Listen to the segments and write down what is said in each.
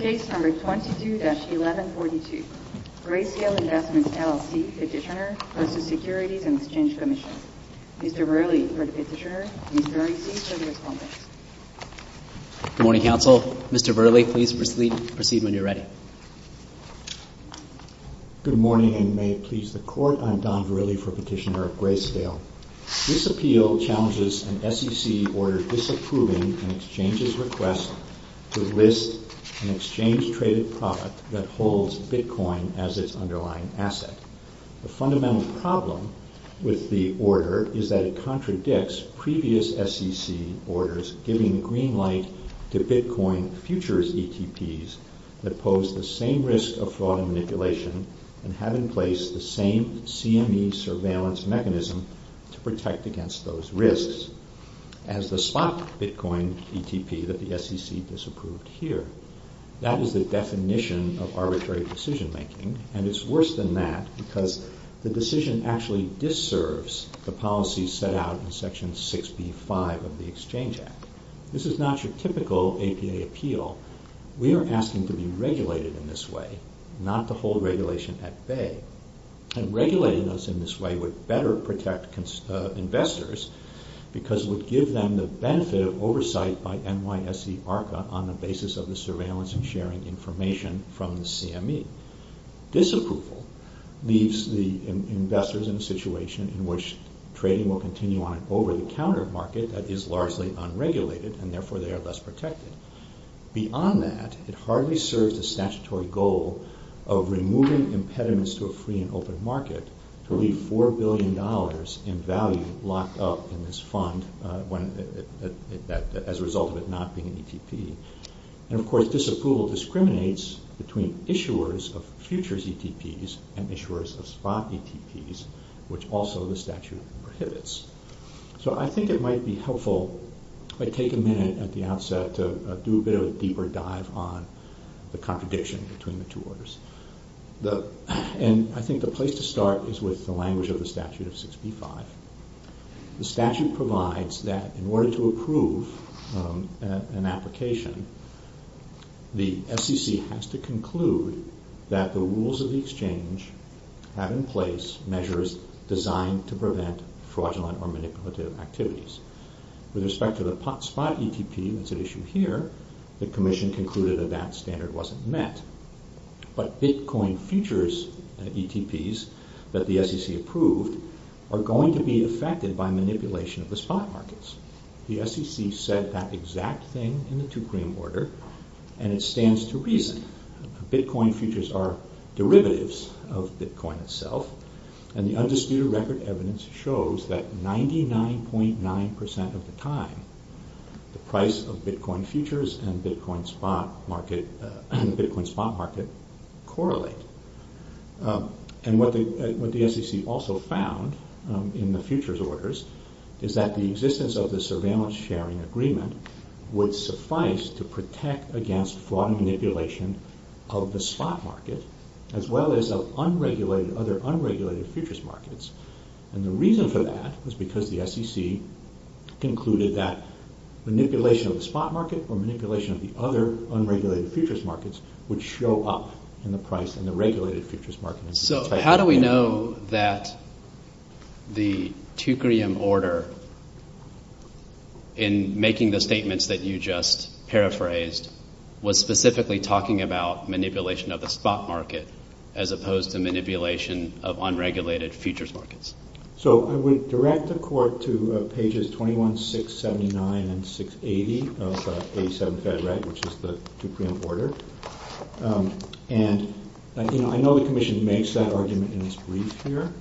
Case No. 22-1142. Grayscale Investments, LLC Petitioner v. Securities and Exchange Commission. Mr. Verrilli for the Petitioner and Ms. Verrilli for the Respondents. Good morning, counsel. Mr. Verrilli, please proceed when you're ready. Good morning and may it please the Court. I'm Don Verrilli for Petitioner of Grayscale. This appeal challenges an SEC order disapproving an exchange's request to list an exchange-traded product that holds bitcoin as its underlying asset. The fundamental problem with the order is that it contradicts previous SEC orders giving the green light to bitcoin futures ETPs that pose the same risk of fraud and manipulation and have in place the same CME surveillance mechanism to protect against those risks as the spot bitcoin ETP that the SEC disapproved here. That is the definition of arbitrary decision-making and it's worse than that because the decision actually dis-serves the policies set out in Section 6B-5 of the Exchange Act. This is not your typical APA appeal. We are asking to be regulated in this way, not to hold regulation at bay. Regulating us in this way would better protect investors because it would give them the benefit of oversight by NYSE ARCA on the basis of the surveillance and sharing information from the CME. Disapproval leaves the investors in a situation in which trading will continue on an over-the-counter market that is largely unregulated and therefore they are less protected. Beyond that, it hardly serves the statutory goal of removing impediments to a free and open market to leave $4 billion in value locked up in this fund as a result of it not being an ETP. Disapproval discriminates between issuers of futures ETPs and issuers of spot ETPs which also the statute prohibits. So I think it might be helpful if I take a minute at the outset to do a bit of a deeper dive on the contradiction between the two orders. I think the place to start is with the language of the statute of 6B-5. The statute provides that in order to approve an application, the SEC has to conclude that the rules of the exchange have in place measures designed to prevent fraudulent or manipulative activities. With respect to the spot ETP that's at issue here, the Commission concluded that that standard wasn't met. But Bitcoin futures ETPs that the SEC approved are going to be affected by manipulation of the spot markets. The SEC said that exact thing in the 2-prime order and it stands to reason. Bitcoin futures are derivatives of Bitcoin itself and the undisputed record evidence shows that 99.9% of the time the price of Bitcoin futures and the Bitcoin spot market correlate. What the SEC also found in the futures orders is that the existence of the surveillance sharing agreement would suffice to protect against fraud manipulation of the spot market as well as other unregulated futures markets. The reason for that is because the SEC concluded that manipulation of the spot market or manipulation of the other unregulated futures markets would show up in the price and the regulated futures markets. So how do we know that the 2-prime order in making the statements that you just paraphrased was specifically talking about manipulation of the spot market as opposed to manipulation of unregulated futures markets? I would direct the Court to pages 21, 679, and 680 of the 87th Federal Regulation, which is the 2-prime order. I know the Commission makes that argument in its brief here.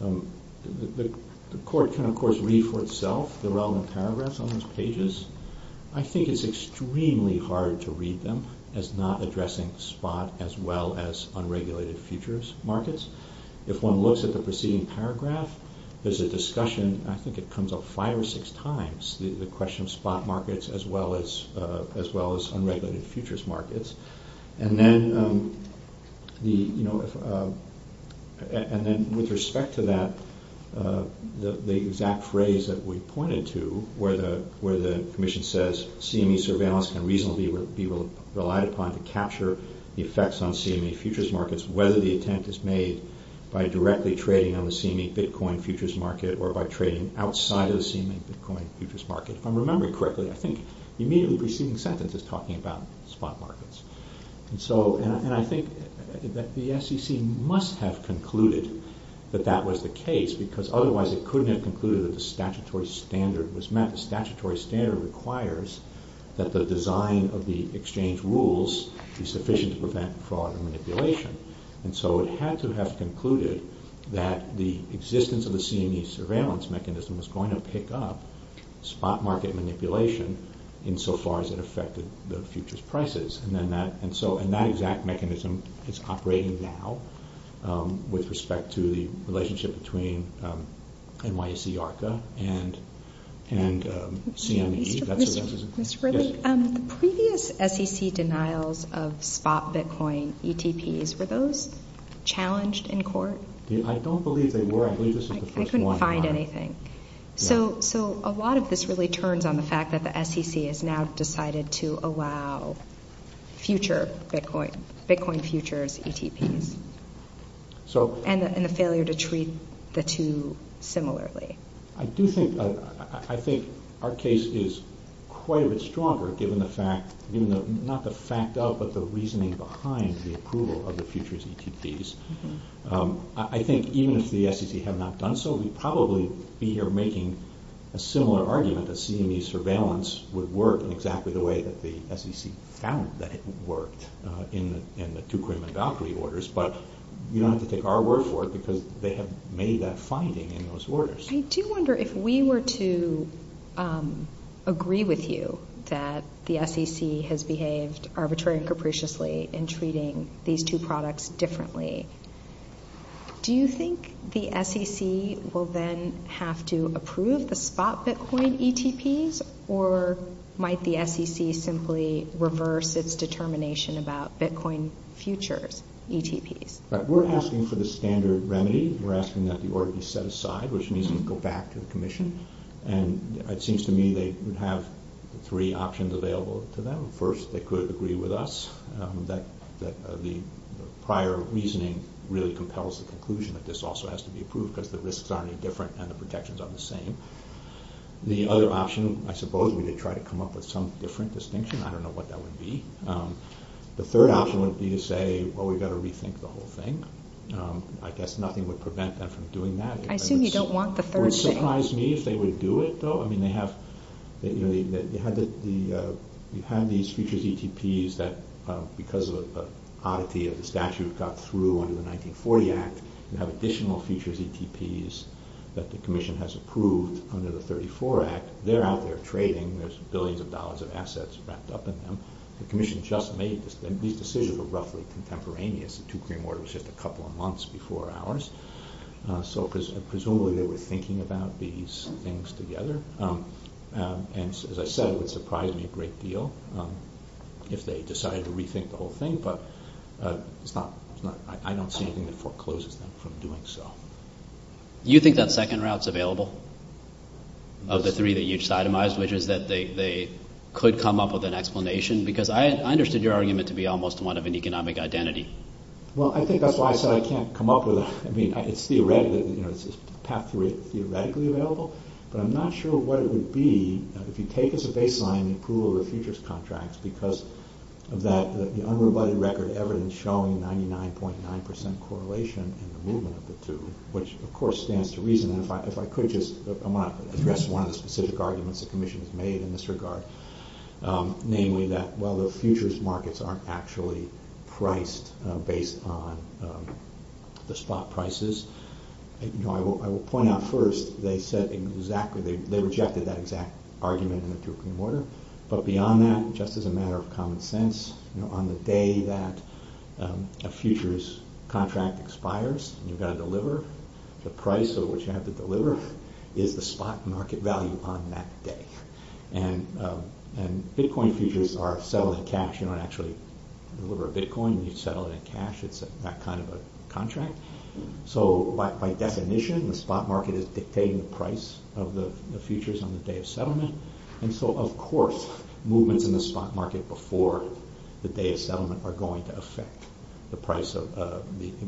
The Court can of course read for itself the relevant paragraphs on those pages. I think it's extremely hard to read them as not addressing spot as well as unregulated futures markets. If one looks at the preceding paragraph, there's a discussion. I think it comes up five or six times, the question of spot markets as well as unregulated futures markets. And then with respect to that, the exact phrase that we pointed to where the Commission says CME surveillance can reasonably be relied upon to capture the effects on CME futures markets, whether the attempt is made by directly trading on the CME Bitcoin futures market or by trading outside of the CME Bitcoin futures market. If I'm remembering correctly, I think the immediately preceding sentence is talking about spot markets. And I think that the SEC must have concluded that that was the case because otherwise it couldn't have concluded that the statutory standard was met. The statutory standard requires that the design of the exchange rules be sufficient to prevent fraud and manipulation. And so it had to have concluded that the existence of the CME surveillance mechanism was going to pick up spot market manipulation insofar as it affected the futures prices. And that exact mechanism is operating now with respect to the relationship between NYSE ARCA and CME. The previous SEC denials of spot Bitcoin ETPs, were those challenged in court? I don't believe they were. I believe this is the first one. I couldn't find anything. So a lot of this really turns on the fact that the SEC has now decided to allow future Bitcoin futures ETPs and the failure to treat the two similarly. I do think, I think our case is quite a bit stronger given the fact, not the fact of, but the reasoning behind the approval of the futures ETPs. I think even if the SEC had not done so, we'd probably be here making a similar argument that CME surveillance would work in exactly the way that the SEC found that it worked in the two Krim and Valkyrie orders. But you don't have to take our word for it because they have made that finding in those orders. I do wonder if we were to agree with you that the SEC has behaved arbitrarily and capriciously in treating these two products differently. Do you think the SEC will then have to approve the spot Bitcoin ETPs or might the SEC simply reverse its determination about Bitcoin futures ETPs? We're asking for the standard remedy. We're asking that the order be set aside, which means we go back to the Commission. And it seems to me they would have three options available to them. First, they could agree with us that the prior reasoning really compels the conclusion that this also has to be approved because the risks aren't any different and the protections aren't the same. The other option, I suppose we could try to come up with some different distinction. I don't know what that would be. The third option would be to say, well, we've got to rethink the whole thing. I guess nothing would prevent them from doing that. I assume you don't want the third thing. Would it surprise me if they would do it, though? I mean, you have these futures ETPs that because of an oddity of the statute got through under the 1940 Act, you have additional futures ETPs that the Commission has approved under the 1934 Act. They're out there trading. There's billions of dollars of assets wrapped up in them. The Commission just made this. These decisions were roughly contemporaneous. The two-cream order was just a couple of months before ours. So presumably they were thinking about these things together. And as I said, it would surprise me a great deal if they decided to rethink the whole thing. But I don't see anything that forecloses them from doing so. Do you think that second route is available of the three that you just itemized, which is that they could come up with an explanation? Because I understood your argument to be almost one of an economic identity. Well, I think that's why I said I can't come up with it. I mean, it's theoretically available, but I'm not sure what it would be if you take as a baseline the approval of the futures contracts because of the unrebutted record evidence showing 99.9% correlation in the movement of the two, which, of course, stands to reason. And if I could just address one of the specific arguments the Commission has made in this regard, namely that while the futures markets aren't actually priced based on the spot prices, I will point out first they rejected that exact argument in the two-cream order. But beyond that, just as a matter of common sense, on the day that a futures contract expires and you've got to deliver, the price at which you have to deliver is the spot market value on that day. And Bitcoin futures are settled in cash. You don't actually deliver a Bitcoin. You settle it in cash. It's that kind of a contract. So by definition, the spot market is dictating the price of the futures on the day of settlement. And so, of course, movements in the spot market before the day of settlement are going to affect the price of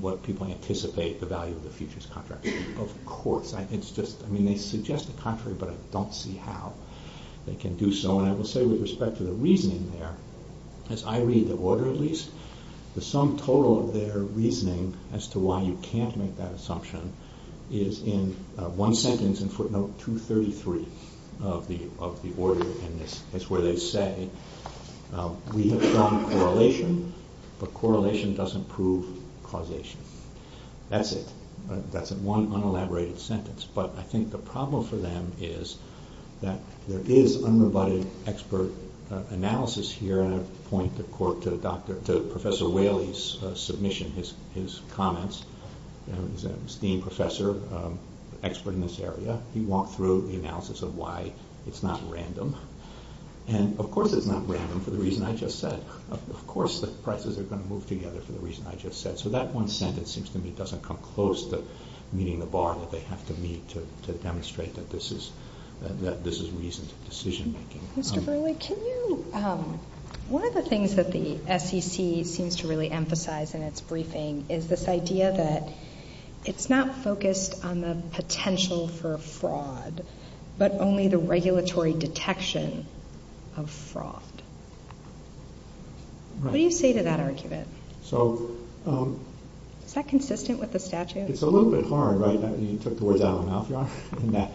what people anticipate the value of the futures contract. Of course. It's just, I mean, they suggest the contrary, but I don't see how they can do so. And I will say with respect to the reasoning there, as I read the order at least, the sum total of their reasoning as to why you can't make that assumption is in one sentence in footnote 233 of the order. And it's where they say, we have found correlation, but correlation doesn't prove causation. That's it. That's one unelaborated sentence. But I think the problem for them is that there is unrebutted expert analysis here, and I point to Professor Whaley's submission, his comments. He's a esteemed professor, expert in this area. He walked through the analysis of why it's not random. And, of course, it's not random for the reason I just said. Of course the prices are going to move together for the reason I just said. So that one sentence seems to me doesn't come close to meeting the bar that they have to meet to demonstrate that this is reasoned decision making. One of the things that the SEC seems to really emphasize in its briefing is this idea that it's not focused on the potential for fraud, but only the regulatory detection of fraud. What do you say to that argument? Is that consistent with the statute? It's a little bit hard, right? You took the words out of my mouth.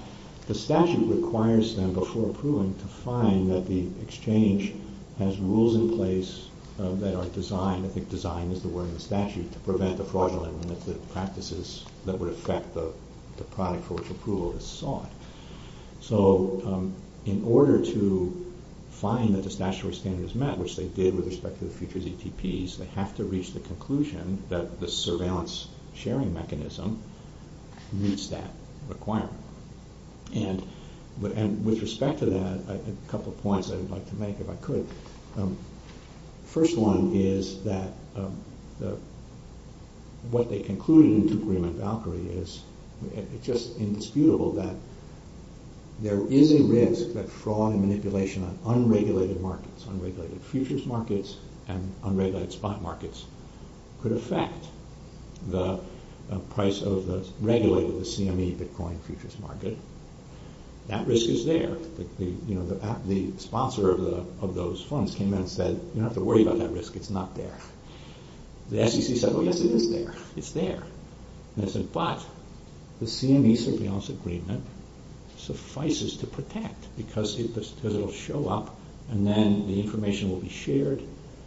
The statute requires them, before approving, to find that the exchange has rules in place that are designed, I think design is the word in the statute, to prevent the fraudulent practices that would affect the product for which approval is sought. So in order to find that the statutory standard is met, which they did with respect to the futures ETPs, they have to reach the conclusion that the surveillance sharing mechanism meets that requirement. And with respect to that, a couple of points I'd like to make, if I could. First one is that what they concluded in Tukrim and Valkyrie is just indisputable that there is a risk that fraud and manipulation on unregulated markets, unregulated futures markets and unregulated spot markets, could affect the price of the regulated CME Bitcoin futures market. That risk is there. The sponsor of those funds came in and said, you don't have to worry about that risk, it's not there. The SEC said, oh yes it is there, it's there. But the CME surveillance agreement suffices to protect, because it will show up and then the information will be shared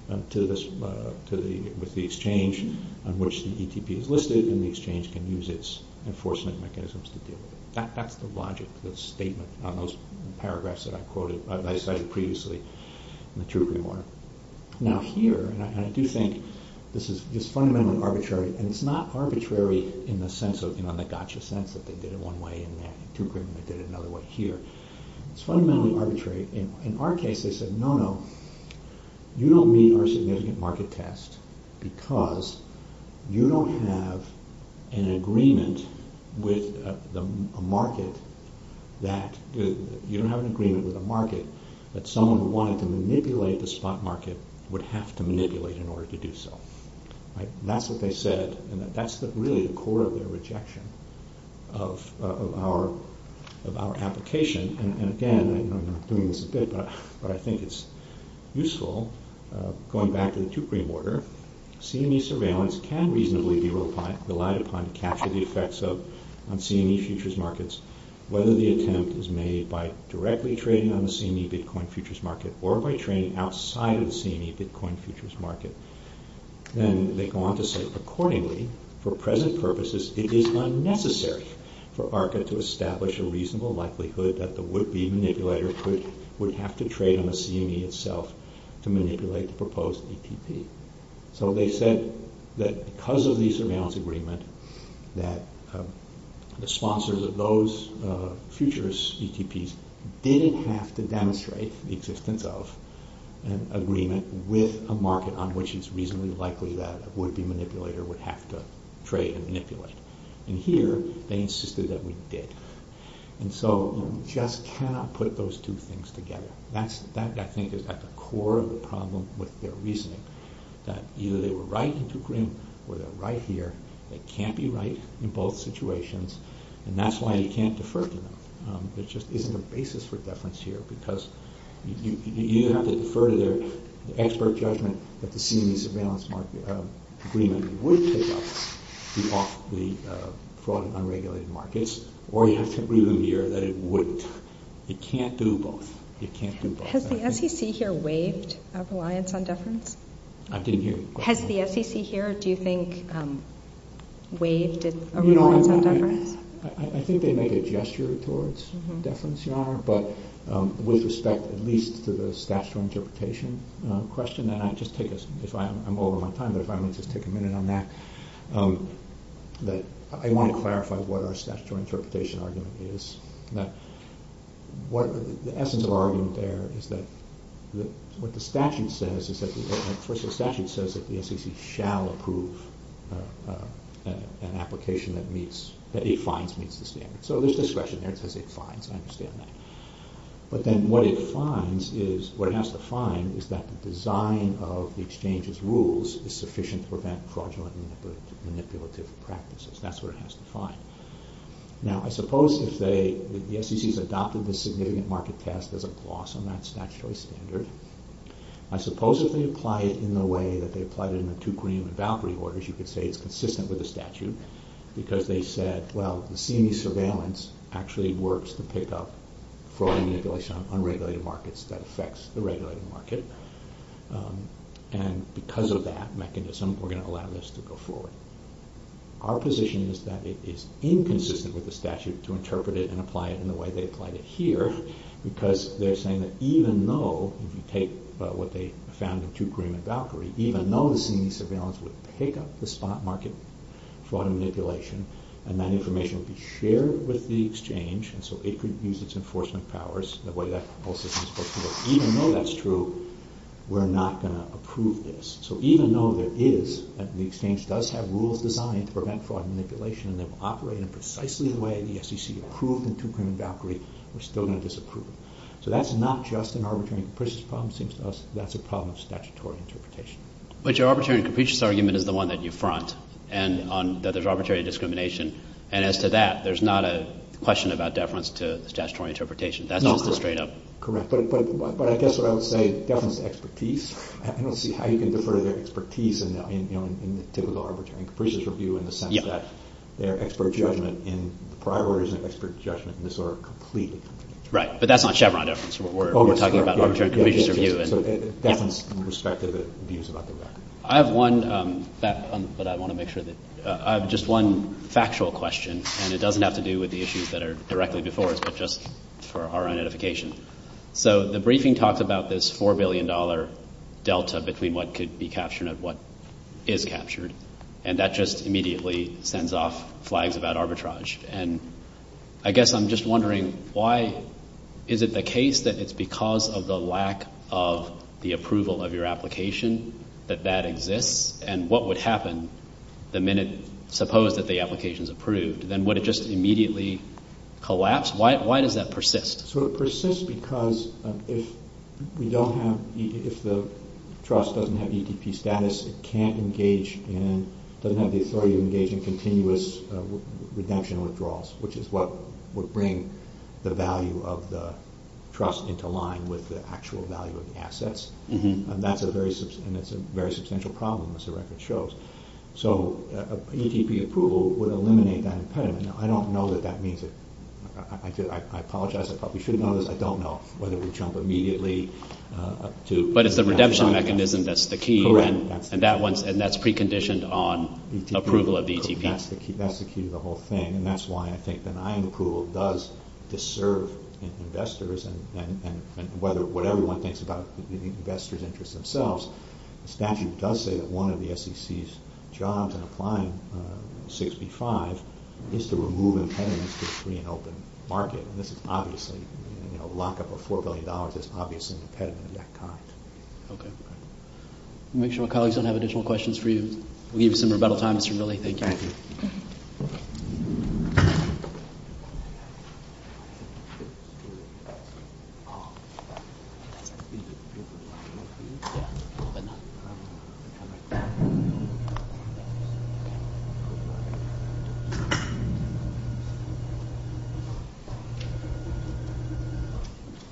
with the exchange on which the ETP is listed and the exchange can use its enforcement mechanisms to deal with it. That's the logic, the statement on those paragraphs that I quoted, that I cited previously in the Tukrim one. Now here, and I do think this is fundamentally arbitrary, and it's not arbitrary in the sense of the gotcha sense that they did it one way in Tukrim and they did it another way here. It's fundamentally arbitrary. In our case they said, no, no, you don't meet our significant market test because you don't have an agreement with a market that, you don't have an agreement with a market that someone who wanted to manipulate the spot market would have to manipulate in order to do so. That's what they said, and that's really the core of their rejection of our application. And again, I know I'm doing this a bit, but I think it's useful, going back to the Tukrim order, CME surveillance can reasonably be relied upon to capture the effects on CME futures markets, whether the attempt is made by directly trading on the CME Bitcoin futures market or by trading outside of the CME Bitcoin futures market. And they go on to say, accordingly, for present purposes it is unnecessary for ARCA to establish a reasonable likelihood that the would-be manipulator would have to trade on the CME itself to manipulate the proposed ETP. So they said that because of the surveillance agreement, that the sponsors of those futures ETPs didn't have to demonstrate the existence of an agreement with a market on which it's reasonably likely that a would-be manipulator would have to trade and manipulate. And here, they insisted that we did. And so you just cannot put those two things together. That, I think, is at the core of the problem with their reasoning, that either they were right in Tukrim or they're right here, they can't be right in both situations, and that's why you can't defer to them. There just isn't a basis for deference here, because you have to defer to their expert judgment that the CME surveillance agreement would take off the fraud in unregulated markets, or you have to agree with them here that it wouldn't. You can't do both. Has the SEC here waived our reliance on deference? I didn't hear you. Has the SEC here, do you think, waived a reliance on deference? I think they made a gesture towards deference, Your Honor, but with respect at least to the statutory interpretation question, and I'll just take a minute on that. I want to clarify what our statutory interpretation argument is. The essence of our argument there is that what the statute says, the statute says that the SEC shall approve an application that it finds meets the standard. So there's discretion there. It says it finds. I understand that. But then what it has to find is that the design of the exchange's rules is sufficient to prevent fraudulent manipulative practices. That's what it has to find. Now, I suppose if the SEC has adopted this significant market test as a gloss on that statutory standard, I suppose if they apply it in the way that they applied it in the two Greenham and Valkyrie orders, you could say it's consistent with the statute because they said, well, the CME surveillance actually works to pick up fraud and manipulation on unregulated markets that affects the regulated market, and because of that mechanism, we're going to allow this to go forward. Our position is that it is inconsistent with the statute to interpret it and apply it in the way they applied it here because they're saying that even though if you take what they found in two Greenham and Valkyrie, even though the CME surveillance would pick up the spot market fraud and manipulation and that information would be shared with the exchange and so it could use its enforcement powers, the way that whole system is supposed to work, even though that's true, we're not going to approve this. So even though the exchange does have rules designed to prevent fraud and manipulation and they've operated precisely the way the SEC approved in two Greenham and Valkyrie, we're still going to disapprove it. So that's not just an arbitrary and capricious problem. It seems to us that's a problem of statutory interpretation. But your arbitrary and capricious argument is the one that you front, and that there's arbitrary discrimination, and as to that, there's not a question about deference to statutory interpretation. That's just a straight-up... Correct, but I guess what I would say is deference to expertise. I don't see how you can defer to their expertise in the typical arbitrary and capricious review in the sense that their expert judgment in the prior order isn't expert judgment in this order completely. Right, but that's not Chevron deference. We're talking about arbitrary and capricious review. So deference in respect to the views about the record. I have one, but I want to make sure that... I have just one factual question, and it doesn't have to do with the issues that are directly before us, but just for our identification. So the briefing talks about this $4 billion delta between what could be captured and what is captured, and that just immediately sends off flags about arbitrage. And I guess I'm just wondering why... Is it the case that it's because of the lack of the approval of your application that that exists? And what would happen the minute, suppose, that the application is approved? Then would it just immediately collapse? Why does that persist? So it persists because if we don't have... If the trust doesn't have ETP status, it can't engage in... which is what would bring the value of the trust into line with the actual value of the assets. And that's a very substantial problem, as the record shows. So ETP approval would eliminate that impediment. Now, I don't know that that means that... I apologize. I probably should have known this. I don't know whether we jump immediately to... But it's the redemption mechanism that's the key, and that's preconditioned on approval of the ETP. That's the key to the whole thing. And that's why I think denying approval does disserve investors and what everyone thinks about the investors' interests themselves. The statute does say that one of the SEC's jobs in applying 6B-5 is to remove impediments to a free and open market. And this is obviously... A lockup of $4 billion is obviously an impediment of that kind. Okay. Make sure my colleagues don't have additional questions for you. We'll give you some rebuttal time, Mr. Milley. Thank you. Thank you.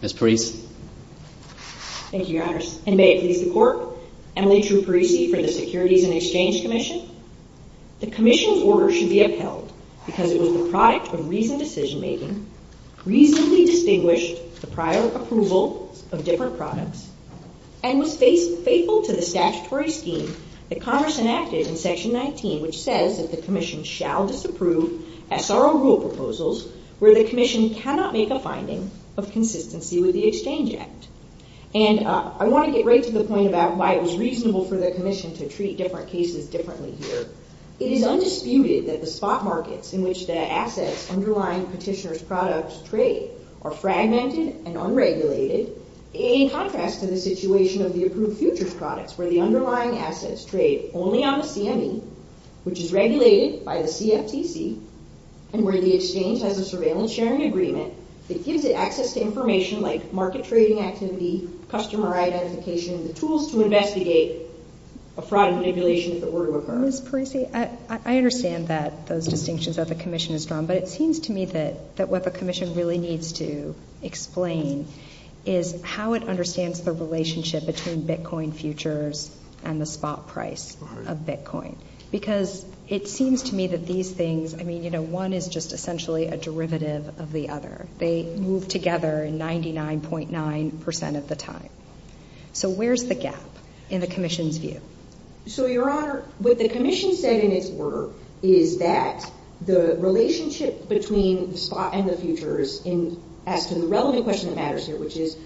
Ms. Parisi. Thank you, Your Honors. And may it please the Court, Emily Drew Parisi for the Securities and Exchange Commission. The Commission's order should be upheld because it was the product of reasoned decision-making, reasonably distinguished the prior approval of different products, and was faithful to the statutory scheme that Congress enacted in Section 19, which says that the Commission shall disapprove SRO rule proposals where the Commission cannot make a finding of consistency with the Exchange Act. And I want to get right to the point about why it was reasonable for the Commission to treat different cases differently here. It is undisputed that the spot markets in which the assets underlying petitioner's products trade are fragmented and unregulated in contrast to the situation of the approved futures products where the underlying assets trade only on the CME, which is regulated by the CFTC, and where the Exchange has a surveillance sharing agreement that gives it access to information like market trading activity, customer identification, the tools to investigate a fraud manipulation if it were to occur. Ms. Parisi, I understand that those distinctions that the Commission has drawn, but it seems to me that what the Commission really needs to explain is how it understands the relationship between Bitcoin futures and the spot price of Bitcoin. Because it seems to me that these things, I mean, you know, one is just essentially a derivative of the other. They move together 99.9% of the time. So where's the gap in the Commission's view? So, Your Honor, what the Commission said in its order is that the relationship between the spot and the futures, as to the relevant question that matters here, which is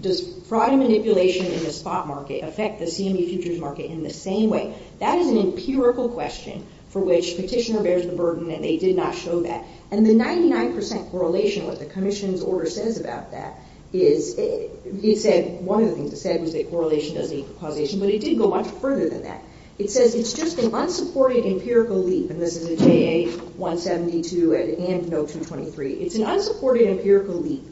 does fraud and manipulation in the spot market affect the CME futures market in the same way? That is an empirical question for which petitioner bears the burden and they did not show that. And the 99% correlation, what the Commission's order says about that, is it said, one of the things it said was that correlation doesn't equal causation, but it did go much further than that. It says it's just an unsupported empirical leap, and this is a JA-172 and NOTE-223. It's an unsupported empirical leap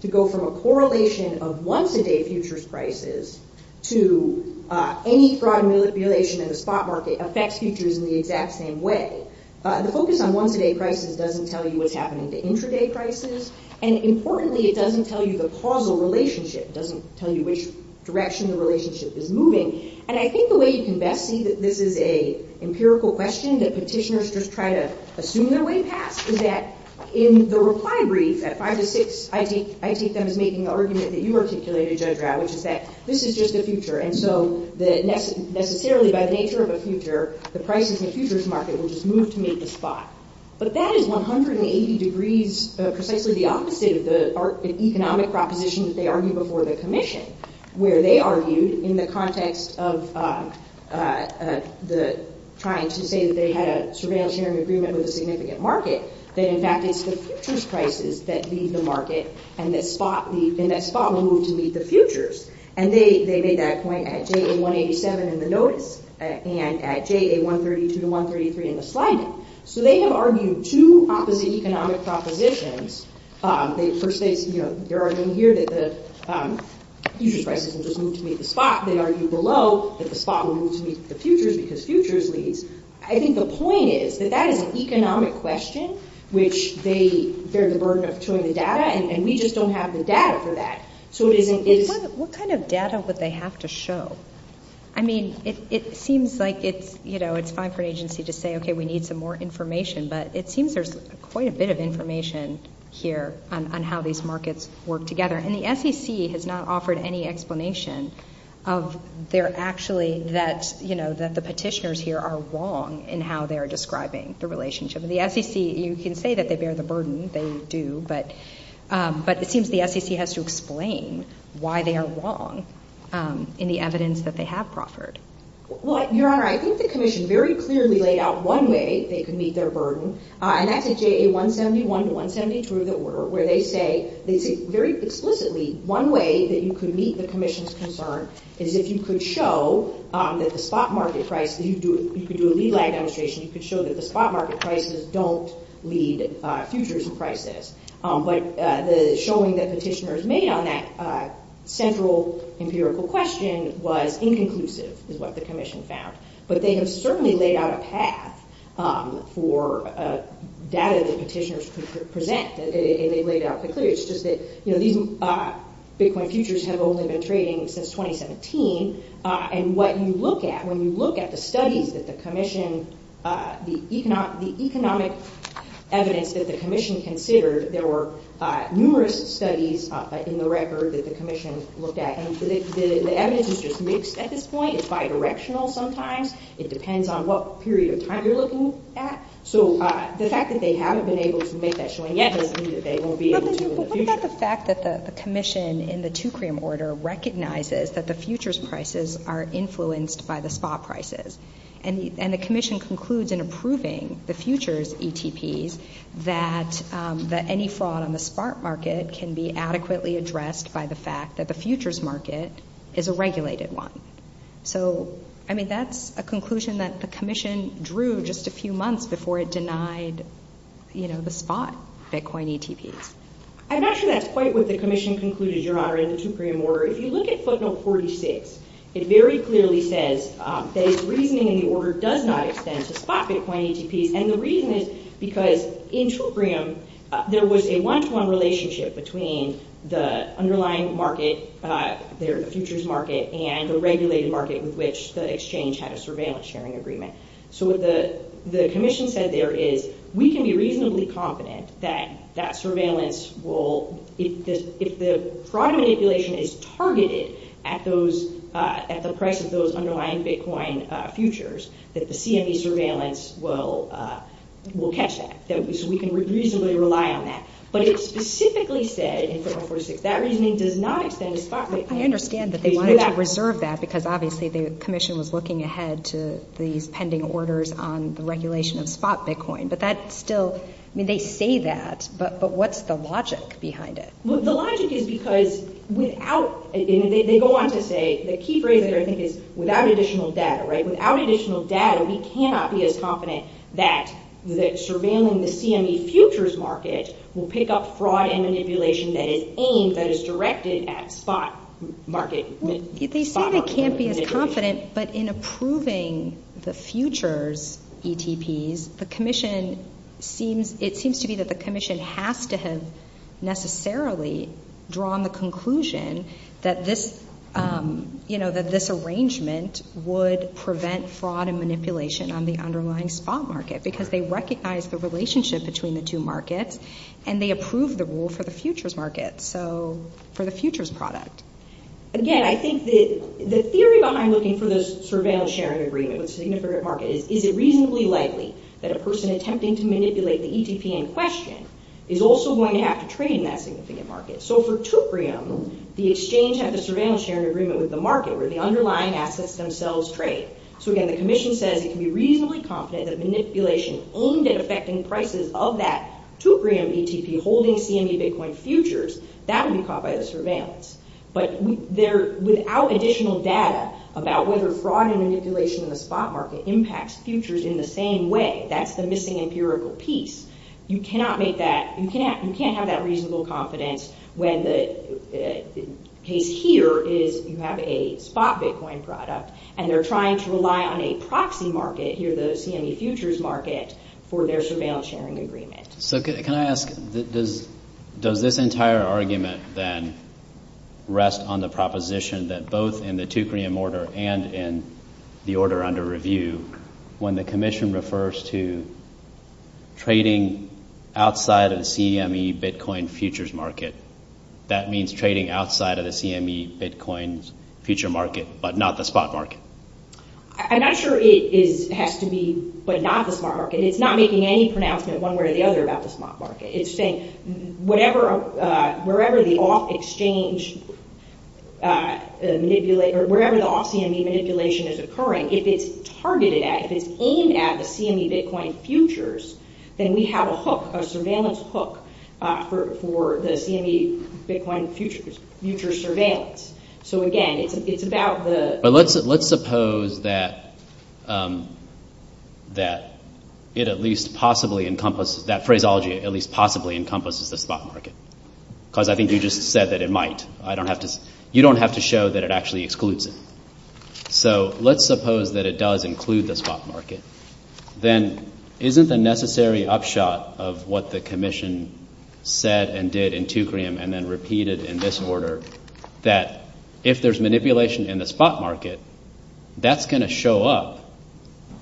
to go from a correlation of once-a-day futures prices to any fraud manipulation in the spot market affects futures in the exact same way. The focus on once-a-day prices doesn't tell you what's happening to intraday prices, and importantly, it doesn't tell you the causal relationship. It doesn't tell you which direction the relationship is moving. And I think the way you can best see that this is an empirical question that petitioners just try to assume their way past is that in the reply brief at 5 to 6, I take them as making the argument that you articulated, Judge Rao, which is that this is just the future, and so necessarily by the nature of a future, the prices in the futures market will just move to meet the spot. But that is 180 degrees precisely the opposite of the economic proposition that they argued before the commission, where they argued in the context of trying to say that they had a surveillance sharing agreement with a significant market that in fact it's the futures prices that lead the market and that spot will move to meet the futures. And they made that point at JA-187 in the notice and at JA-132 to 133 in the slide. So they have argued two opposite economic propositions. They're arguing here that the futures prices will just move to meet the spot. They argue below that the spot will move to meet the futures because futures leads. I think the point is that that is an economic question which they bear the burden of towing the data, and we just don't have the data for that. So it isn't... What kind of data would they have to show? I mean, it seems like it's, you know, it's fine for an agency to say, okay, we need some more information, but it seems there's quite a bit of information here on how these markets work together. And the SEC has not offered any explanation of their actually that, you know, that the petitioners here are wrong in how they're describing the relationship. The SEC, you can say that they bear the burden, they do, but it seems the SEC has to explain why they are wrong in the evidence that they have proffered. Well, Your Honor, I think the commission very clearly laid out one way they could meet their burden, and that's at JA 171 to 172 of the order where they say very explicitly one way that you could meet the commission's concern is if you could show that the spot market price, you could do a lead lag demonstration, you could show that the spot market prices don't lead futures prices. But the showing that petitioners made on that central empirical question was inconclusive is what the commission found. But they have certainly laid out a path for data that petitioners could present. They laid it out very clearly. It's just that, you know, these Bitcoin futures have only been trading since 2017, and what you look at when you look at the studies that the commission, the economic evidence that the commission considered, there were numerous studies in the record that the commission looked at, and the evidence is just mixed at this point. It's bidirectional sometimes. It depends on what period of time you're looking at. So the fact that they haven't been able to make that showing yet doesn't mean that they won't be able to in the future. But what about the fact that the commission in the 2 cream order recognizes that the futures prices are influenced by the spot prices, and the commission concludes in approving the futures ETPs that any fraud on the spot market can be adequately addressed by the fact that the futures market is a regulated one. So, I mean, that's a conclusion that the commission drew just a few months before it denied, you know, the spot Bitcoin ETPs. I'm not sure that's quite what the commission concluded, Your Honor, in the 2 cream order. If you look at footnote 46, it very clearly says that its reasoning in the order does not extend to spot Bitcoin ETPs, and the reason is because in 2 cream, there was a one-to-one relationship between the underlying market, the futures market, and a regulated market with which the exchange had a surveillance sharing agreement. So what the commission said there is we can be reasonably confident that that surveillance will, if the fraud manipulation is targeted at the price of those underlying Bitcoin futures, that the CME surveillance will catch that, so we can reasonably rely on that. But it specifically said in footnote 46, that reasoning does not extend to spot Bitcoin ETPs. I understand that they wanted to reserve that because obviously the commission was looking ahead to these pending orders on the regulation of spot Bitcoin, but that still, I mean, they say that, but what's the logic behind it? Well, the logic is because without, and they go on to say, the key phrase there, I think, is without additional data, right? Without additional data, we cannot be as confident that surveilling the CME futures market will pick up fraud and manipulation that is aimed, that is directed at spot market. They say they can't be as confident, but in approving the futures ETPs, the commission seems, it seems to be that the commission has to have necessarily drawn the conclusion that this, you know, that this arrangement would prevent fraud and manipulation on the underlying spot market because they recognize the relationship between the two markets and they approve the rule for the futures market, so for the futures product. Again, I think that the theory behind looking for this surveillance sharing agreement with a significant market is, is it reasonably likely that a person attempting to manipulate the ETP in question is also going to have to trade in that significant market? So for Tuprium, the exchange had the surveillance sharing agreement with the market where the underlying assets themselves trade. So again, the commission says it can be reasonably confident that manipulation aimed at affecting prices of that Tuprium ETP holding CME Bitcoin futures, that would be caught by the surveillance, but without additional data about whether fraud and manipulation in the spot market impacts futures in the same way. That's the missing empirical piece. You cannot make that, you can't have that reasonable confidence when the case here is you have a spot Bitcoin product and they're trying to rely on a proxy market, here the CME futures market, for their surveillance sharing agreement. So can I ask, does this entire argument then rest on the proposition that both in the Tuprium order and in the order under review, when the commission refers to trading outside of the CME Bitcoin futures market, that means trading outside of the CME Bitcoin futures market, but not the spot market? I'm not sure it has to be, but not the spot market. It's not making any pronouncement one way or the other about the spot market. It's saying wherever the off-CME manipulation is occurring, if it's targeted at, if it's aimed at the CME Bitcoin futures, then we have a surveillance hook for the CME Bitcoin futures surveillance. So again, it's about the... But let's suppose that it at least possibly encompasses, that phraseology at least possibly encompasses the spot market, because I think you just said that it might. You don't have to show that it actually excludes it. So let's suppose that it does include the spot market. Then isn't the necessary upshot of what the commission said and did in Tuprium and then repeated in this order, that if there's manipulation in the spot market, that's going to show up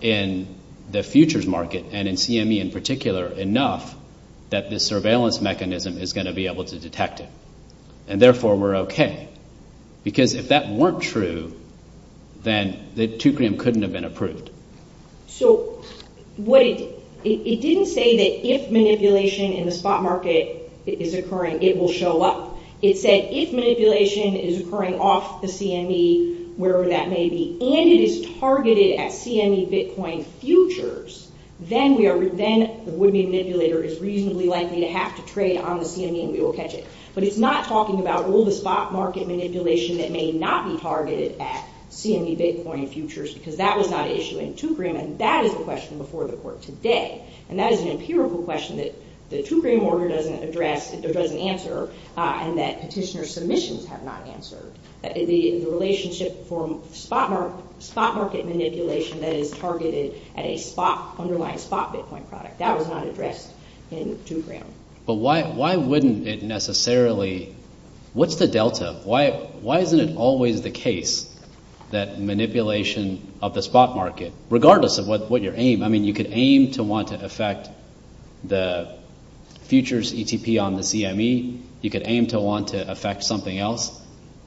in the futures market and in CME in particular enough that the surveillance mechanism is going to be able to detect it. And therefore, we're okay. Because if that weren't true, then the Tuprium couldn't have been approved. So it didn't say that if manipulation in the spot market is occurring, it will show up. It said if manipulation is occurring off the CME, wherever that may be, and it is targeted at CME Bitcoin futures, then the would-be manipulator is reasonably likely to have to trade on the CME and we will catch it. But it's not talking about all the spot market manipulation that may not be targeted at CME Bitcoin futures, because that was not an issue in Tuprium. And that is the question before the court today. And that is an empirical question that the Tuprium order doesn't address or doesn't answer and that petitioner submissions have not answered. The relationship for spot market manipulation that is targeted at an underlying spot Bitcoin product, that was not addressed in Tuprium. But why wouldn't it necessarily – what's the delta? Why isn't it always the case that manipulation of the spot market, regardless of what your aim – I mean, you could aim to want to affect the futures ETP on the CME. You could aim to want to affect something else.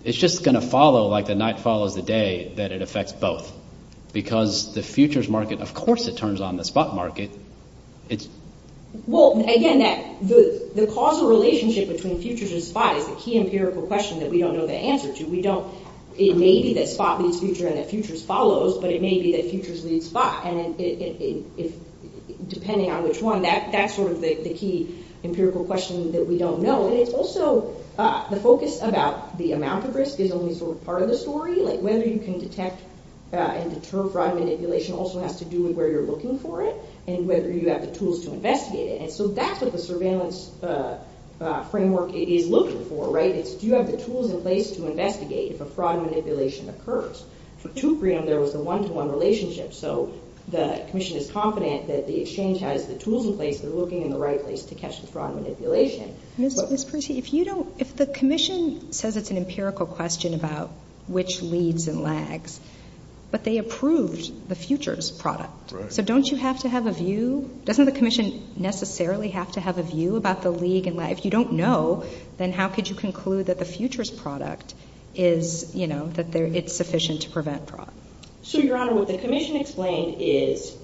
It's just going to follow like the night follows the day that it affects both, because the futures market, of course, it turns on the spot market. Well, again, the causal relationship between futures and spot is the key empirical question that we don't know the answer to. We don't – it may be that spot means future and that futures follows, but it may be that futures leads spot. And if – depending on which one, that's sort of the key empirical question that we don't know. And it's also the focus about the amount of risk is only sort of part of the story, like whether you can detect and deter fraud manipulation also has to do with where you're looking for it and whether you have the tools to investigate it. And so that's what the surveillance framework is looking for, right? It's do you have the tools in place to investigate if a fraud manipulation occurs? From 2.3 on, there was a one-to-one relationship. So the commission is confident that the exchange has the tools in place and they're looking in the right place to catch the fraud manipulation. Ms. Percy, if you don't – if the commission says it's an empirical question about which leads and lags, but they approved the futures product, so don't you have to have a view – doesn't the commission necessarily have to have a view about the lead and lag? If you don't know, then how could you conclude that the futures product is, you know, that it's sufficient to prevent fraud? So, Your Honor, what the commission explained is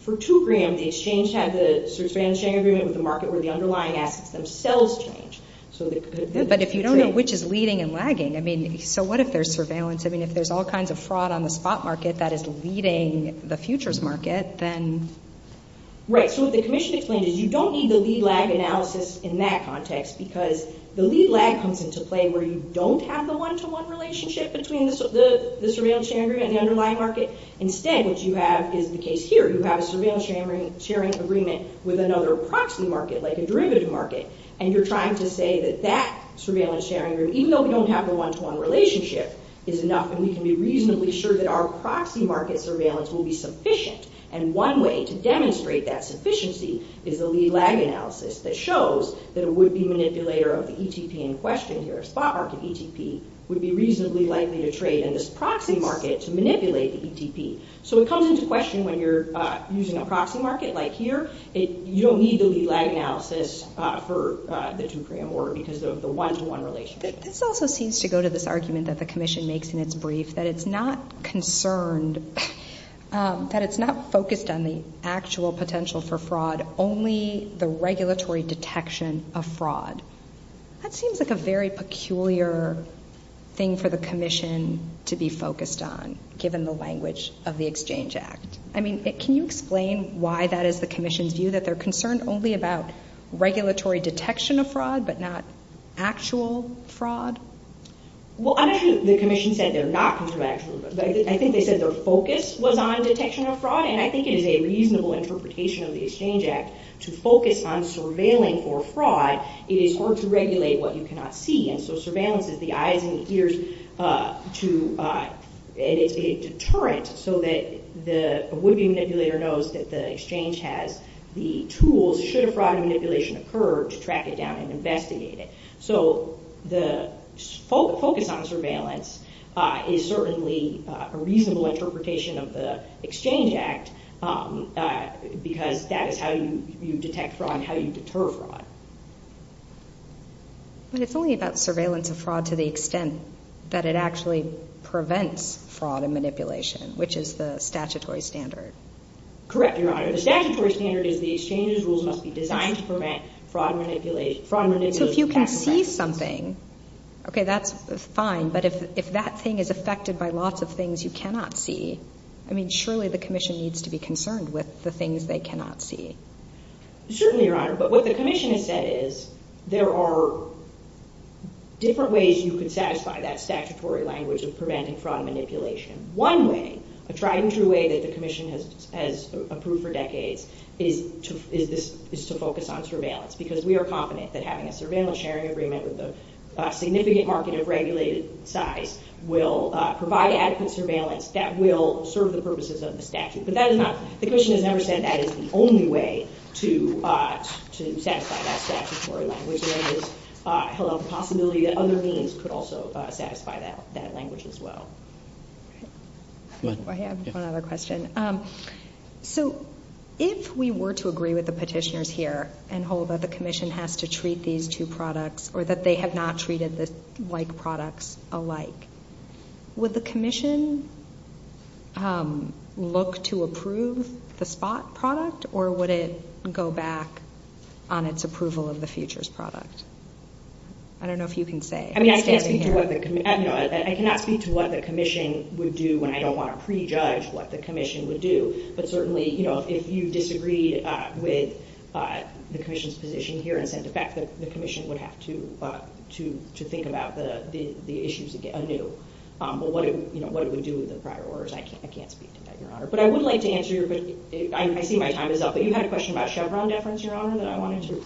for 2 gram, the exchange had the sort of expansionary agreement with the market where the underlying assets themselves change. But if you don't know which is leading and lagging, I mean, so what if there's surveillance? I mean, if there's all kinds of fraud on the spot market that is leading the futures market, then – Right, so what the commission explained is you don't need the lead-lag analysis in that context because the lead-lag comes into play where you don't have the one-to-one relationship between the surveillance sharing agreement and the underlying market. Instead, what you have is the case here. You have a surveillance sharing agreement with another proxy market, like a derivative market, and you're trying to say that that surveillance sharing agreement, even though we don't have the one-to-one relationship, is enough and we can be reasonably sure that our proxy market surveillance will be sufficient. And one way to demonstrate that sufficiency is the lead-lag analysis that shows that a would-be manipulator of the ETP in question here, a spot market ETP, would be reasonably likely to trade in this proxy market to manipulate the ETP. So it comes into question when you're using a proxy market like here. You don't need the lead-lag analysis for the 2-prime order because of the one-to-one relationship. This also seems to go to this argument that the commission makes in its brief that it's not concerned, that it's not focused on the actual potential for fraud, only the regulatory detection of fraud. That seems like a very peculiar thing for the commission to be focused on, given the language of the Exchange Act. I mean, can you explain why that is the commission's view, that they're concerned only about regulatory detection of fraud but not actual fraud? Well, I don't think the commission said they're not concerned about actual fraud. I think they said their focus was on detection of fraud, and I think it is a reasonable interpretation of the Exchange Act to focus on surveilling for fraud. It is hard to regulate what you cannot see, and so surveillance is the eyes and the ears, and it's a deterrent so that a would-be manipulator knows that the Exchange has the tools, should a fraud manipulation occur, to track it down and investigate it. So the focus on surveillance is certainly a reasonable interpretation of the Exchange Act because that is how you detect fraud and how you deter fraud. But it's only about surveillance of fraud to the extent that it actually prevents fraud and manipulation, which is the statutory standard. Correct, Your Honor. The statutory standard is the Exchange's rules must be designed to prevent fraud manipulation. So if you can see something, okay, that's fine, but if that thing is affected by lots of things you cannot see, I mean, surely the commission needs to be concerned with the things they cannot see. Certainly, Your Honor. But what the commission has said is there are different ways you could satisfy that statutory language of preventing fraud and manipulation. One way, a tried-and-true way that the commission has approved for decades, is to focus on surveillance because we are confident that having a surveillance sharing agreement with a significant market of regulated size will provide adequate surveillance that will serve the purposes of the statute. But the commission has never said that is the only way to satisfy that statutory language. There is a possibility that other means could also satisfy that language as well. Go ahead. I have one other question. So if we were to agree with the petitioners here and hold that the commission has to treat these two products or that they have not treated the like products alike, would the commission look to approve the spot product or would it go back on its approval of the futures product? I don't know if you can say. I mean, I cannot speak to what the commission would do and I don't want to prejudge what the commission would do, but certainly if you disagreed with the commission's position here and said the fact that the commission would have to think about the issues anew, what it would do with the prior orders, I can't speak to that, Your Honor. But I would like to answer your question. I see my time is up, but you had a question about Chevron deference, Your Honor, that I wanted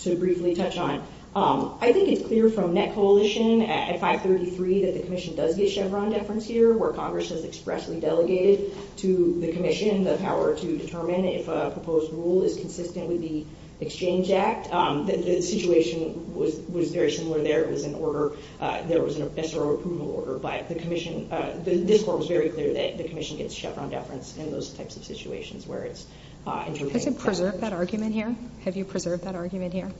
to briefly touch on. I think it's clear from NetCoalition at 533 that the commission does get Chevron deference here where Congress has expressly delegated to the commission the power to determine if a proposed rule is consistent with the Exchange Act. The situation was very similar there. It was an order. There was an SRO approval order, but this court was very clear that the commission gets Chevron deference in those types of situations where it's interpreting. Has it preserved that argument here? Have you preserved that argument here?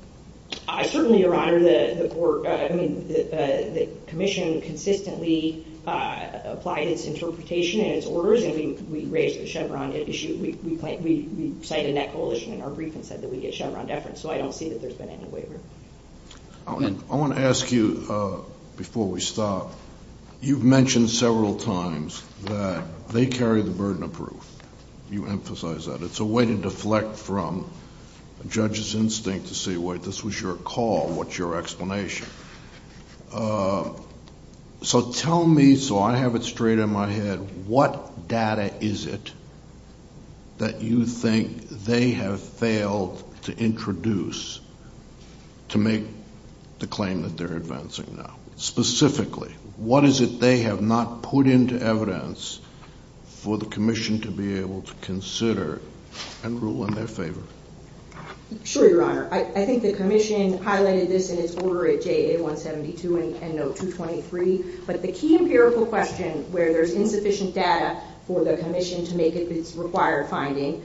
Certainly, Your Honor. The commission consistently applied its interpretation and its orders and we raised the Chevron issue. We cited NetCoalition in our brief and said that we get Chevron deference, so I don't see that there's been any waiver. I want to ask you, before we stop, you've mentioned several times that they carry the burden of proof. You emphasize that. It's a way to deflect from a judge's instinct to say, wait, this was your call, what's your explanation? So tell me, so I have it straight in my head, what data is it that you think they have failed to introduce to make the claim that they're advancing now? Specifically, what is it they have not put into evidence for the commission to be able to consider and rule in their favor? Sure, Your Honor. I think the commission highlighted this in its order at JA172 and note 223, but the key empirical question where there's insufficient data for the commission to make its required finding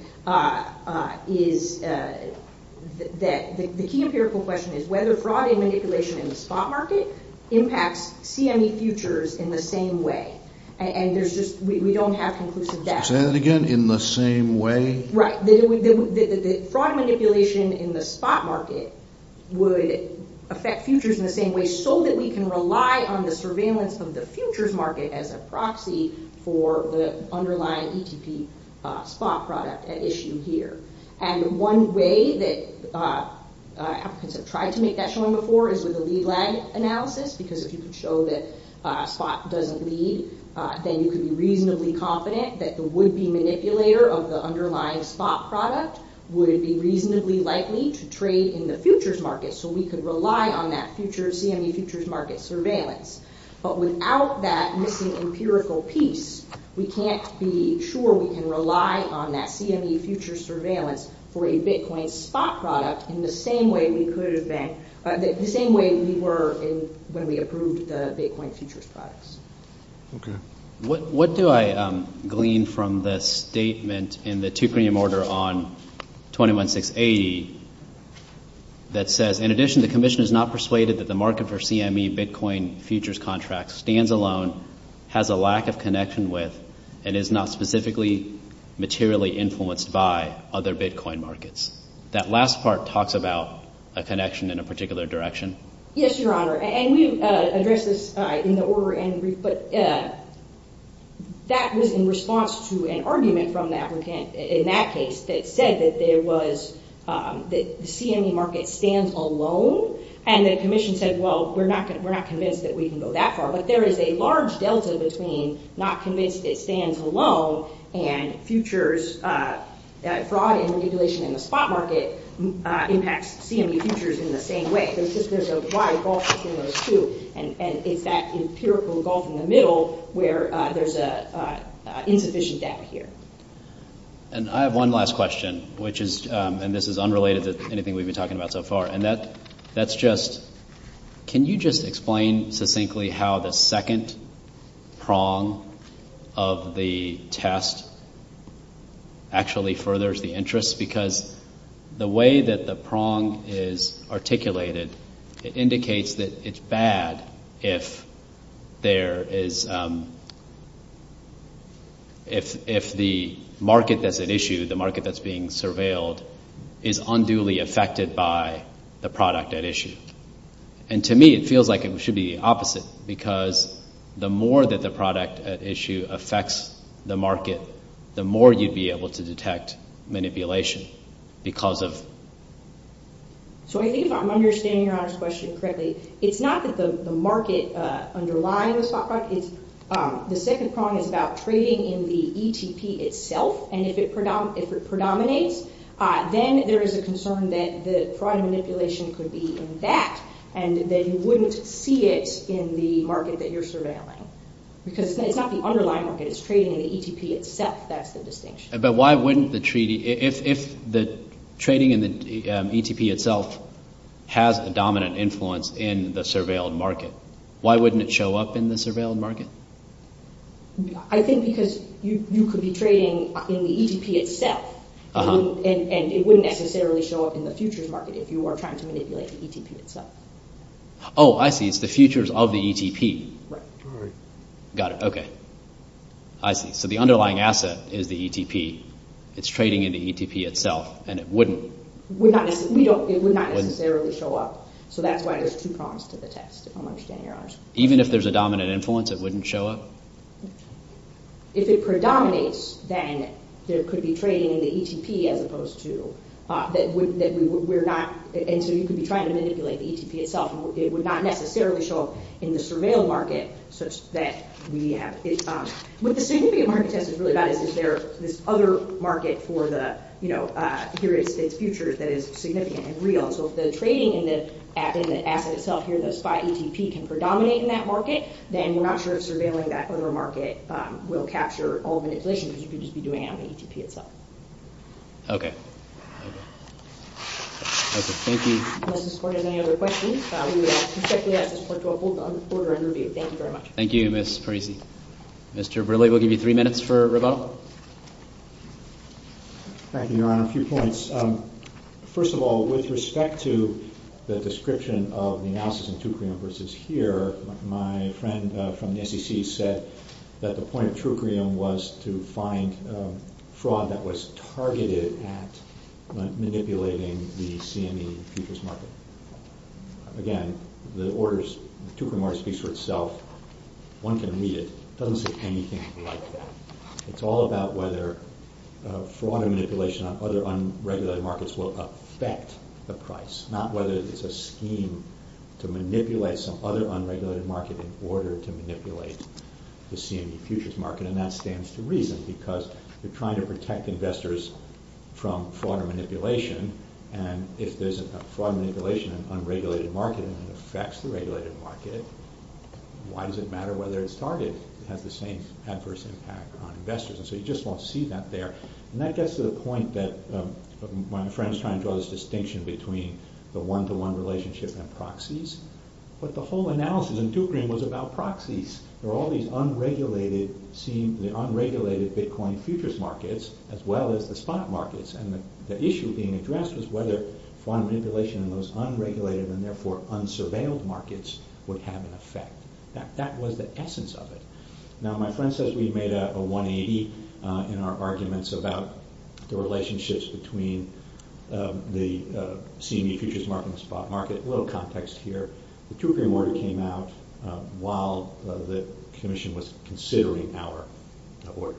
is that the key empirical question is whether fraud and manipulation in the spot market impacts CME futures in the same way, and we don't have conclusive data. Say that again, in the same way? Right. Fraud and manipulation in the spot market would affect futures in the same way so that we can rely on the surveillance of the futures market as a proxy for the underlying ETP spot product at issue here. One way that applicants have tried to make that showing before is with a lead-lag analysis because if you can show that a spot doesn't lead, then you can be reasonably confident that the would-be manipulator of the underlying spot product would be reasonably likely to trade in the futures market so we could rely on that future CME futures market surveillance. But without that missing empirical piece, we can't be sure we can rely on that CME futures surveillance for a Bitcoin spot product in the same way we were when we approved the Bitcoin futures products. Okay. What do I glean from the statement in the two premium order on 21680 that says, in addition, the commission is not persuaded that the market for CME Bitcoin futures contracts stands alone, has a lack of connection with, and is not specifically materially influenced by other Bitcoin markets? That last part talks about a connection in a particular direction. Yes, Your Honor. And we addressed this in the order and brief, but that was in response to an argument from the applicant in that case that said that the CME market stands alone and the commission said, well, we're not convinced that we can go that far. But there is a large delta between not convinced it stands alone and futures fraud and manipulation in the spot market impacts CME futures in the same way. There's a wide gulf between those two, and it's that empirical gulf in the middle where there's insufficient data here. And I have one last question, which is, and this is unrelated to anything we've been talking about so far, and that's just, can you just explain succinctly how the second prong of the test actually furthers the interest? Because the way that the prong is articulated, it indicates that it's bad if there is, if the market that's at issue, the market that's being surveilled, is unduly affected by the product at issue. And to me, it feels like it should be the opposite, because the more that the product at issue affects the market, the more you'd be able to detect manipulation because of. So I think if I'm understanding Your Honor's question correctly, it's not that the market underlying the spot product, the second prong is about trading in the ETP itself, and if it predominates, then there is a concern that the fraud and manipulation could be in that, and that you wouldn't see it in the market that you're surveilling. Because it's not the underlying market, it's trading in the ETP itself, that's the distinction. But why wouldn't the treaty, if the trading in the ETP itself has a dominant influence in the surveilled market, why wouldn't it show up in the surveilled market? I think because you could be trading in the ETP itself, and it wouldn't necessarily show up in the futures market if you were trying to manipulate the ETP itself. Oh, I see, it's the futures of the ETP. Right. Got it, okay. I see. So the underlying asset is the ETP, it's trading in the ETP itself, and it wouldn't. It would not necessarily show up, so that's why there's two prongs to the test, if I'm understanding Your Honor's question. Even if there's a dominant influence, it wouldn't show up? If it predominates, then there could be trading in the ETP as opposed to, and so you could be trying to manipulate the ETP itself, and it would not necessarily show up in the surveilled market such that we have it. What the significant market test is really about is, is there this other market for the, you know, here it's futures that is significant and real. So if the trading in the asset itself here, the SPI ETP, can predominate in that market, then we're not sure if surveilling that other market will capture all manipulation, because you could just be doing it on the ETP itself. Okay. Thank you. Unless this Court has any other questions, we would respectfully ask this Court to hold the order and review. Thank you very much. Thank you, Ms. Parisi. Mr. Brilley, we'll give you three minutes for rebuttal. Thank you, Your Honor. A few points. First of all, with respect to the description of the analysis in Trucrium versus here, my friend from the SEC said that the point of Trucrium was to find fraud that was targeted at manipulating the CME futures market. Again, the orders, the Trucrium order speaks for itself. One can read it. It doesn't say anything like that. It's all about whether fraud and manipulation on other unregulated markets will affect the price, not whether it's a scheme to manipulate some other unregulated market in order to manipulate the CME futures market, and that stands to reason, because you're trying to protect investors from fraud or manipulation, and if there's a fraud manipulation in an unregulated market and it affects the regulated market, why does it matter whether it's targeted? It has the same adverse impact on investors, and so you just won't see that there. And that gets to the point that my friend is trying to draw this distinction between the one-to-one relationship and proxies, but the whole analysis in Trucrium was about proxies. There were all these unregulated Bitcoin futures markets as well as the spot markets, and the issue being addressed was whether fraud and manipulation in those unregulated and therefore unsurveilled markets would have an effect. That was the essence of it. Now, my friend says we made a 180 in our arguments about the relationships between the CME futures market and the spot market. A little context here. The Trucrium order came out while the Commission was considering our order.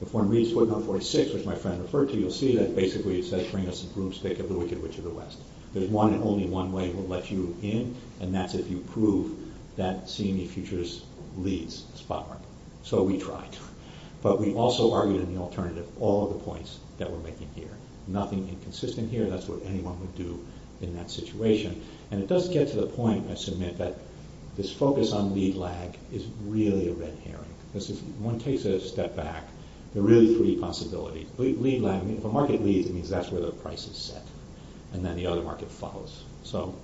If one reads 4946, which my friend referred to, you'll see that basically it says, bring us a broomstick of the wicked witch of the West. There's one and only one way we'll let you in, and that's if you prove that CME futures leads the spot market. So we tried. But we also argued in the alternative all of the points that we're making here. Nothing inconsistent here. That's what anyone would do in that situation. And it does get to the point, I submit, that this focus on lead lag is really a red herring. One takes a step back. There are really three possibilities. If a market leads, it means that's where the price is set. And then the other market follows. So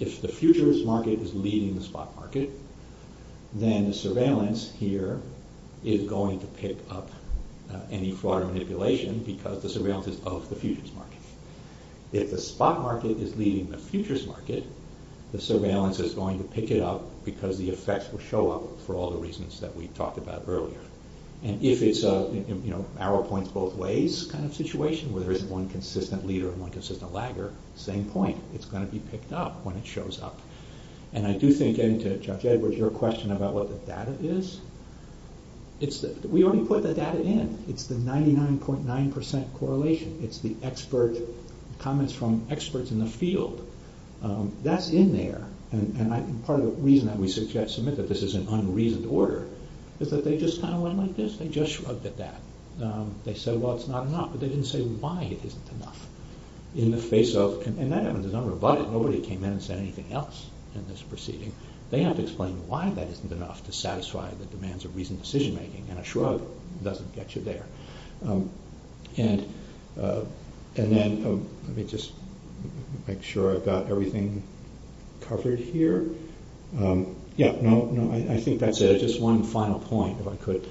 if the futures market is leading the spot market, then the surveillance here is going to pick up any fraud or manipulation because the surveillance is of the futures market. If the spot market is leading the futures market, the surveillance is going to pick it up because the effects will show up for all the reasons that we talked about earlier. And if it's an arrow points both ways kind of situation where there isn't one consistent leader and one consistent lagger, same point. It's going to be picked up when it shows up. And I do think, getting to Judge Edwards, your question about what the data is, we already put the data in. It's the 99.9% correlation. It's the expert comments from experts in the field. That's in there. And part of the reason that we submit that this is an unreasoned order is that they just kind of went like this. They just shrugged at that. They said, well, it's not enough. But they didn't say why it isn't enough in the face of, and that happens. It's unrebutted. Nobody came in and said anything else in this proceeding. They have to explain why that isn't enough to satisfy the demands of reasoned decision making. And a shrug doesn't get you there. And then, let me just make sure I've got everything covered here. Yeah, no, I think that's it. Just one final point, if I could.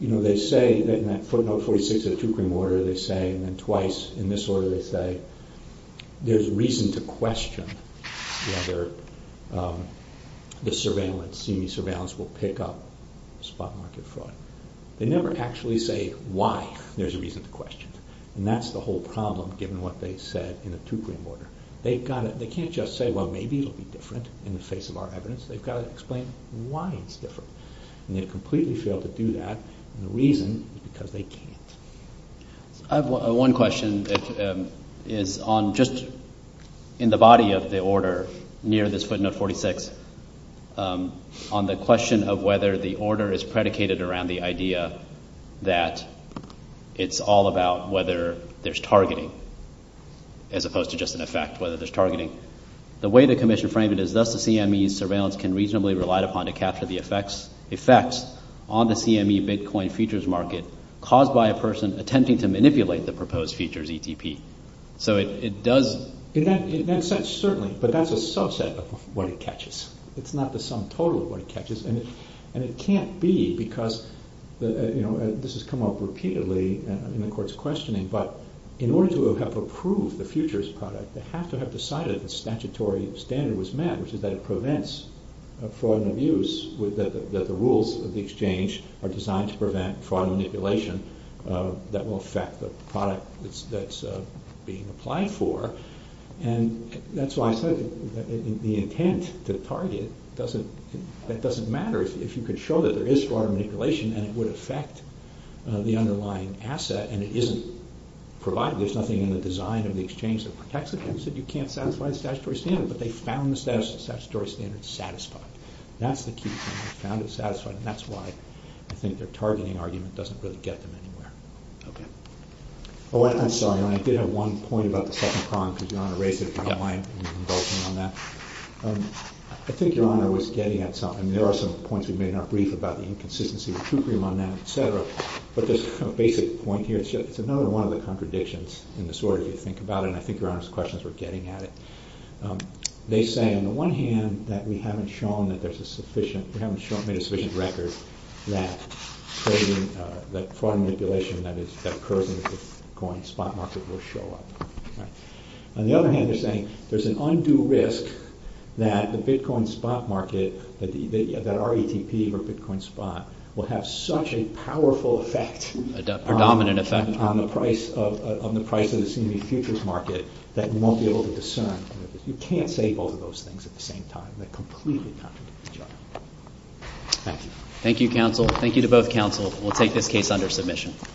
You know, they say that in that footnote 46 of the two-crime order, they say, and then twice in this order they say, there's reason to question whether the CME surveillance will pick up spot market fraud. They never actually say why there's a reason to question. And that's the whole problem, given what they said in the two-crime order. They can't just say, well, maybe it'll be different in the face of our evidence. They've got to explain why it's different. And they completely failed to do that, and the reason is because they can't. I have one question that is on just in the body of the order near this footnote 46, on the question of whether the order is predicated around the idea that it's all about whether there's targeting, as opposed to just in effect whether there's targeting. The way the commission framed it is thus the CME surveillance can reasonably relied upon to capture the effects on the CME Bitcoin futures market caused by a person attempting to manipulate the proposed futures ETP. In that sense, certainly, but that's a subset of what it catches. It's not the sum total of what it catches, and it can't be because this has come up repeatedly in the court's questioning, but in order to have approved the futures product, they have to have decided the statutory standard was met, which is that it prevents fraud and abuse, that the rules of the exchange are designed to prevent fraud and manipulation that will affect the product that's being applied for, and that's why I said the intent to target doesn't matter if you could show that there is fraud and manipulation and it would affect the underlying asset and it isn't provided. There's nothing in the design of the exchange that protects it. They said you can't satisfy the statutory standard, but they found the statutory standard satisfied. That's the key thing. They found it satisfied, and that's why I think their targeting argument doesn't really get them anywhere. Okay. Oh, I'm sorry, Your Honor. I did have one point about the second prong, because Your Honor raised it if you don't mind. Yeah. I think Your Honor was getting at something. There are some points we made in our brief about the inconsistency of the true premium on that, et cetera, but there's a basic point here. It's another one of the contradictions in this order, if you think about it, and I think Your Honor's questions were getting at it. They say, on the one hand, that we haven't made a sufficient record that fraud manipulation that occurs in the Bitcoin spot market will show up. On the other hand, they're saying there's an undue risk that the Bitcoin spot market, that RETP or Bitcoin spot will have such a powerful effect on the price of the CME futures market that we won't be able to discern. You can't say both of those things at the same time. They completely contradict each other. Thank you. Thank you, counsel. Thank you to both counsel. We'll take this case under submission.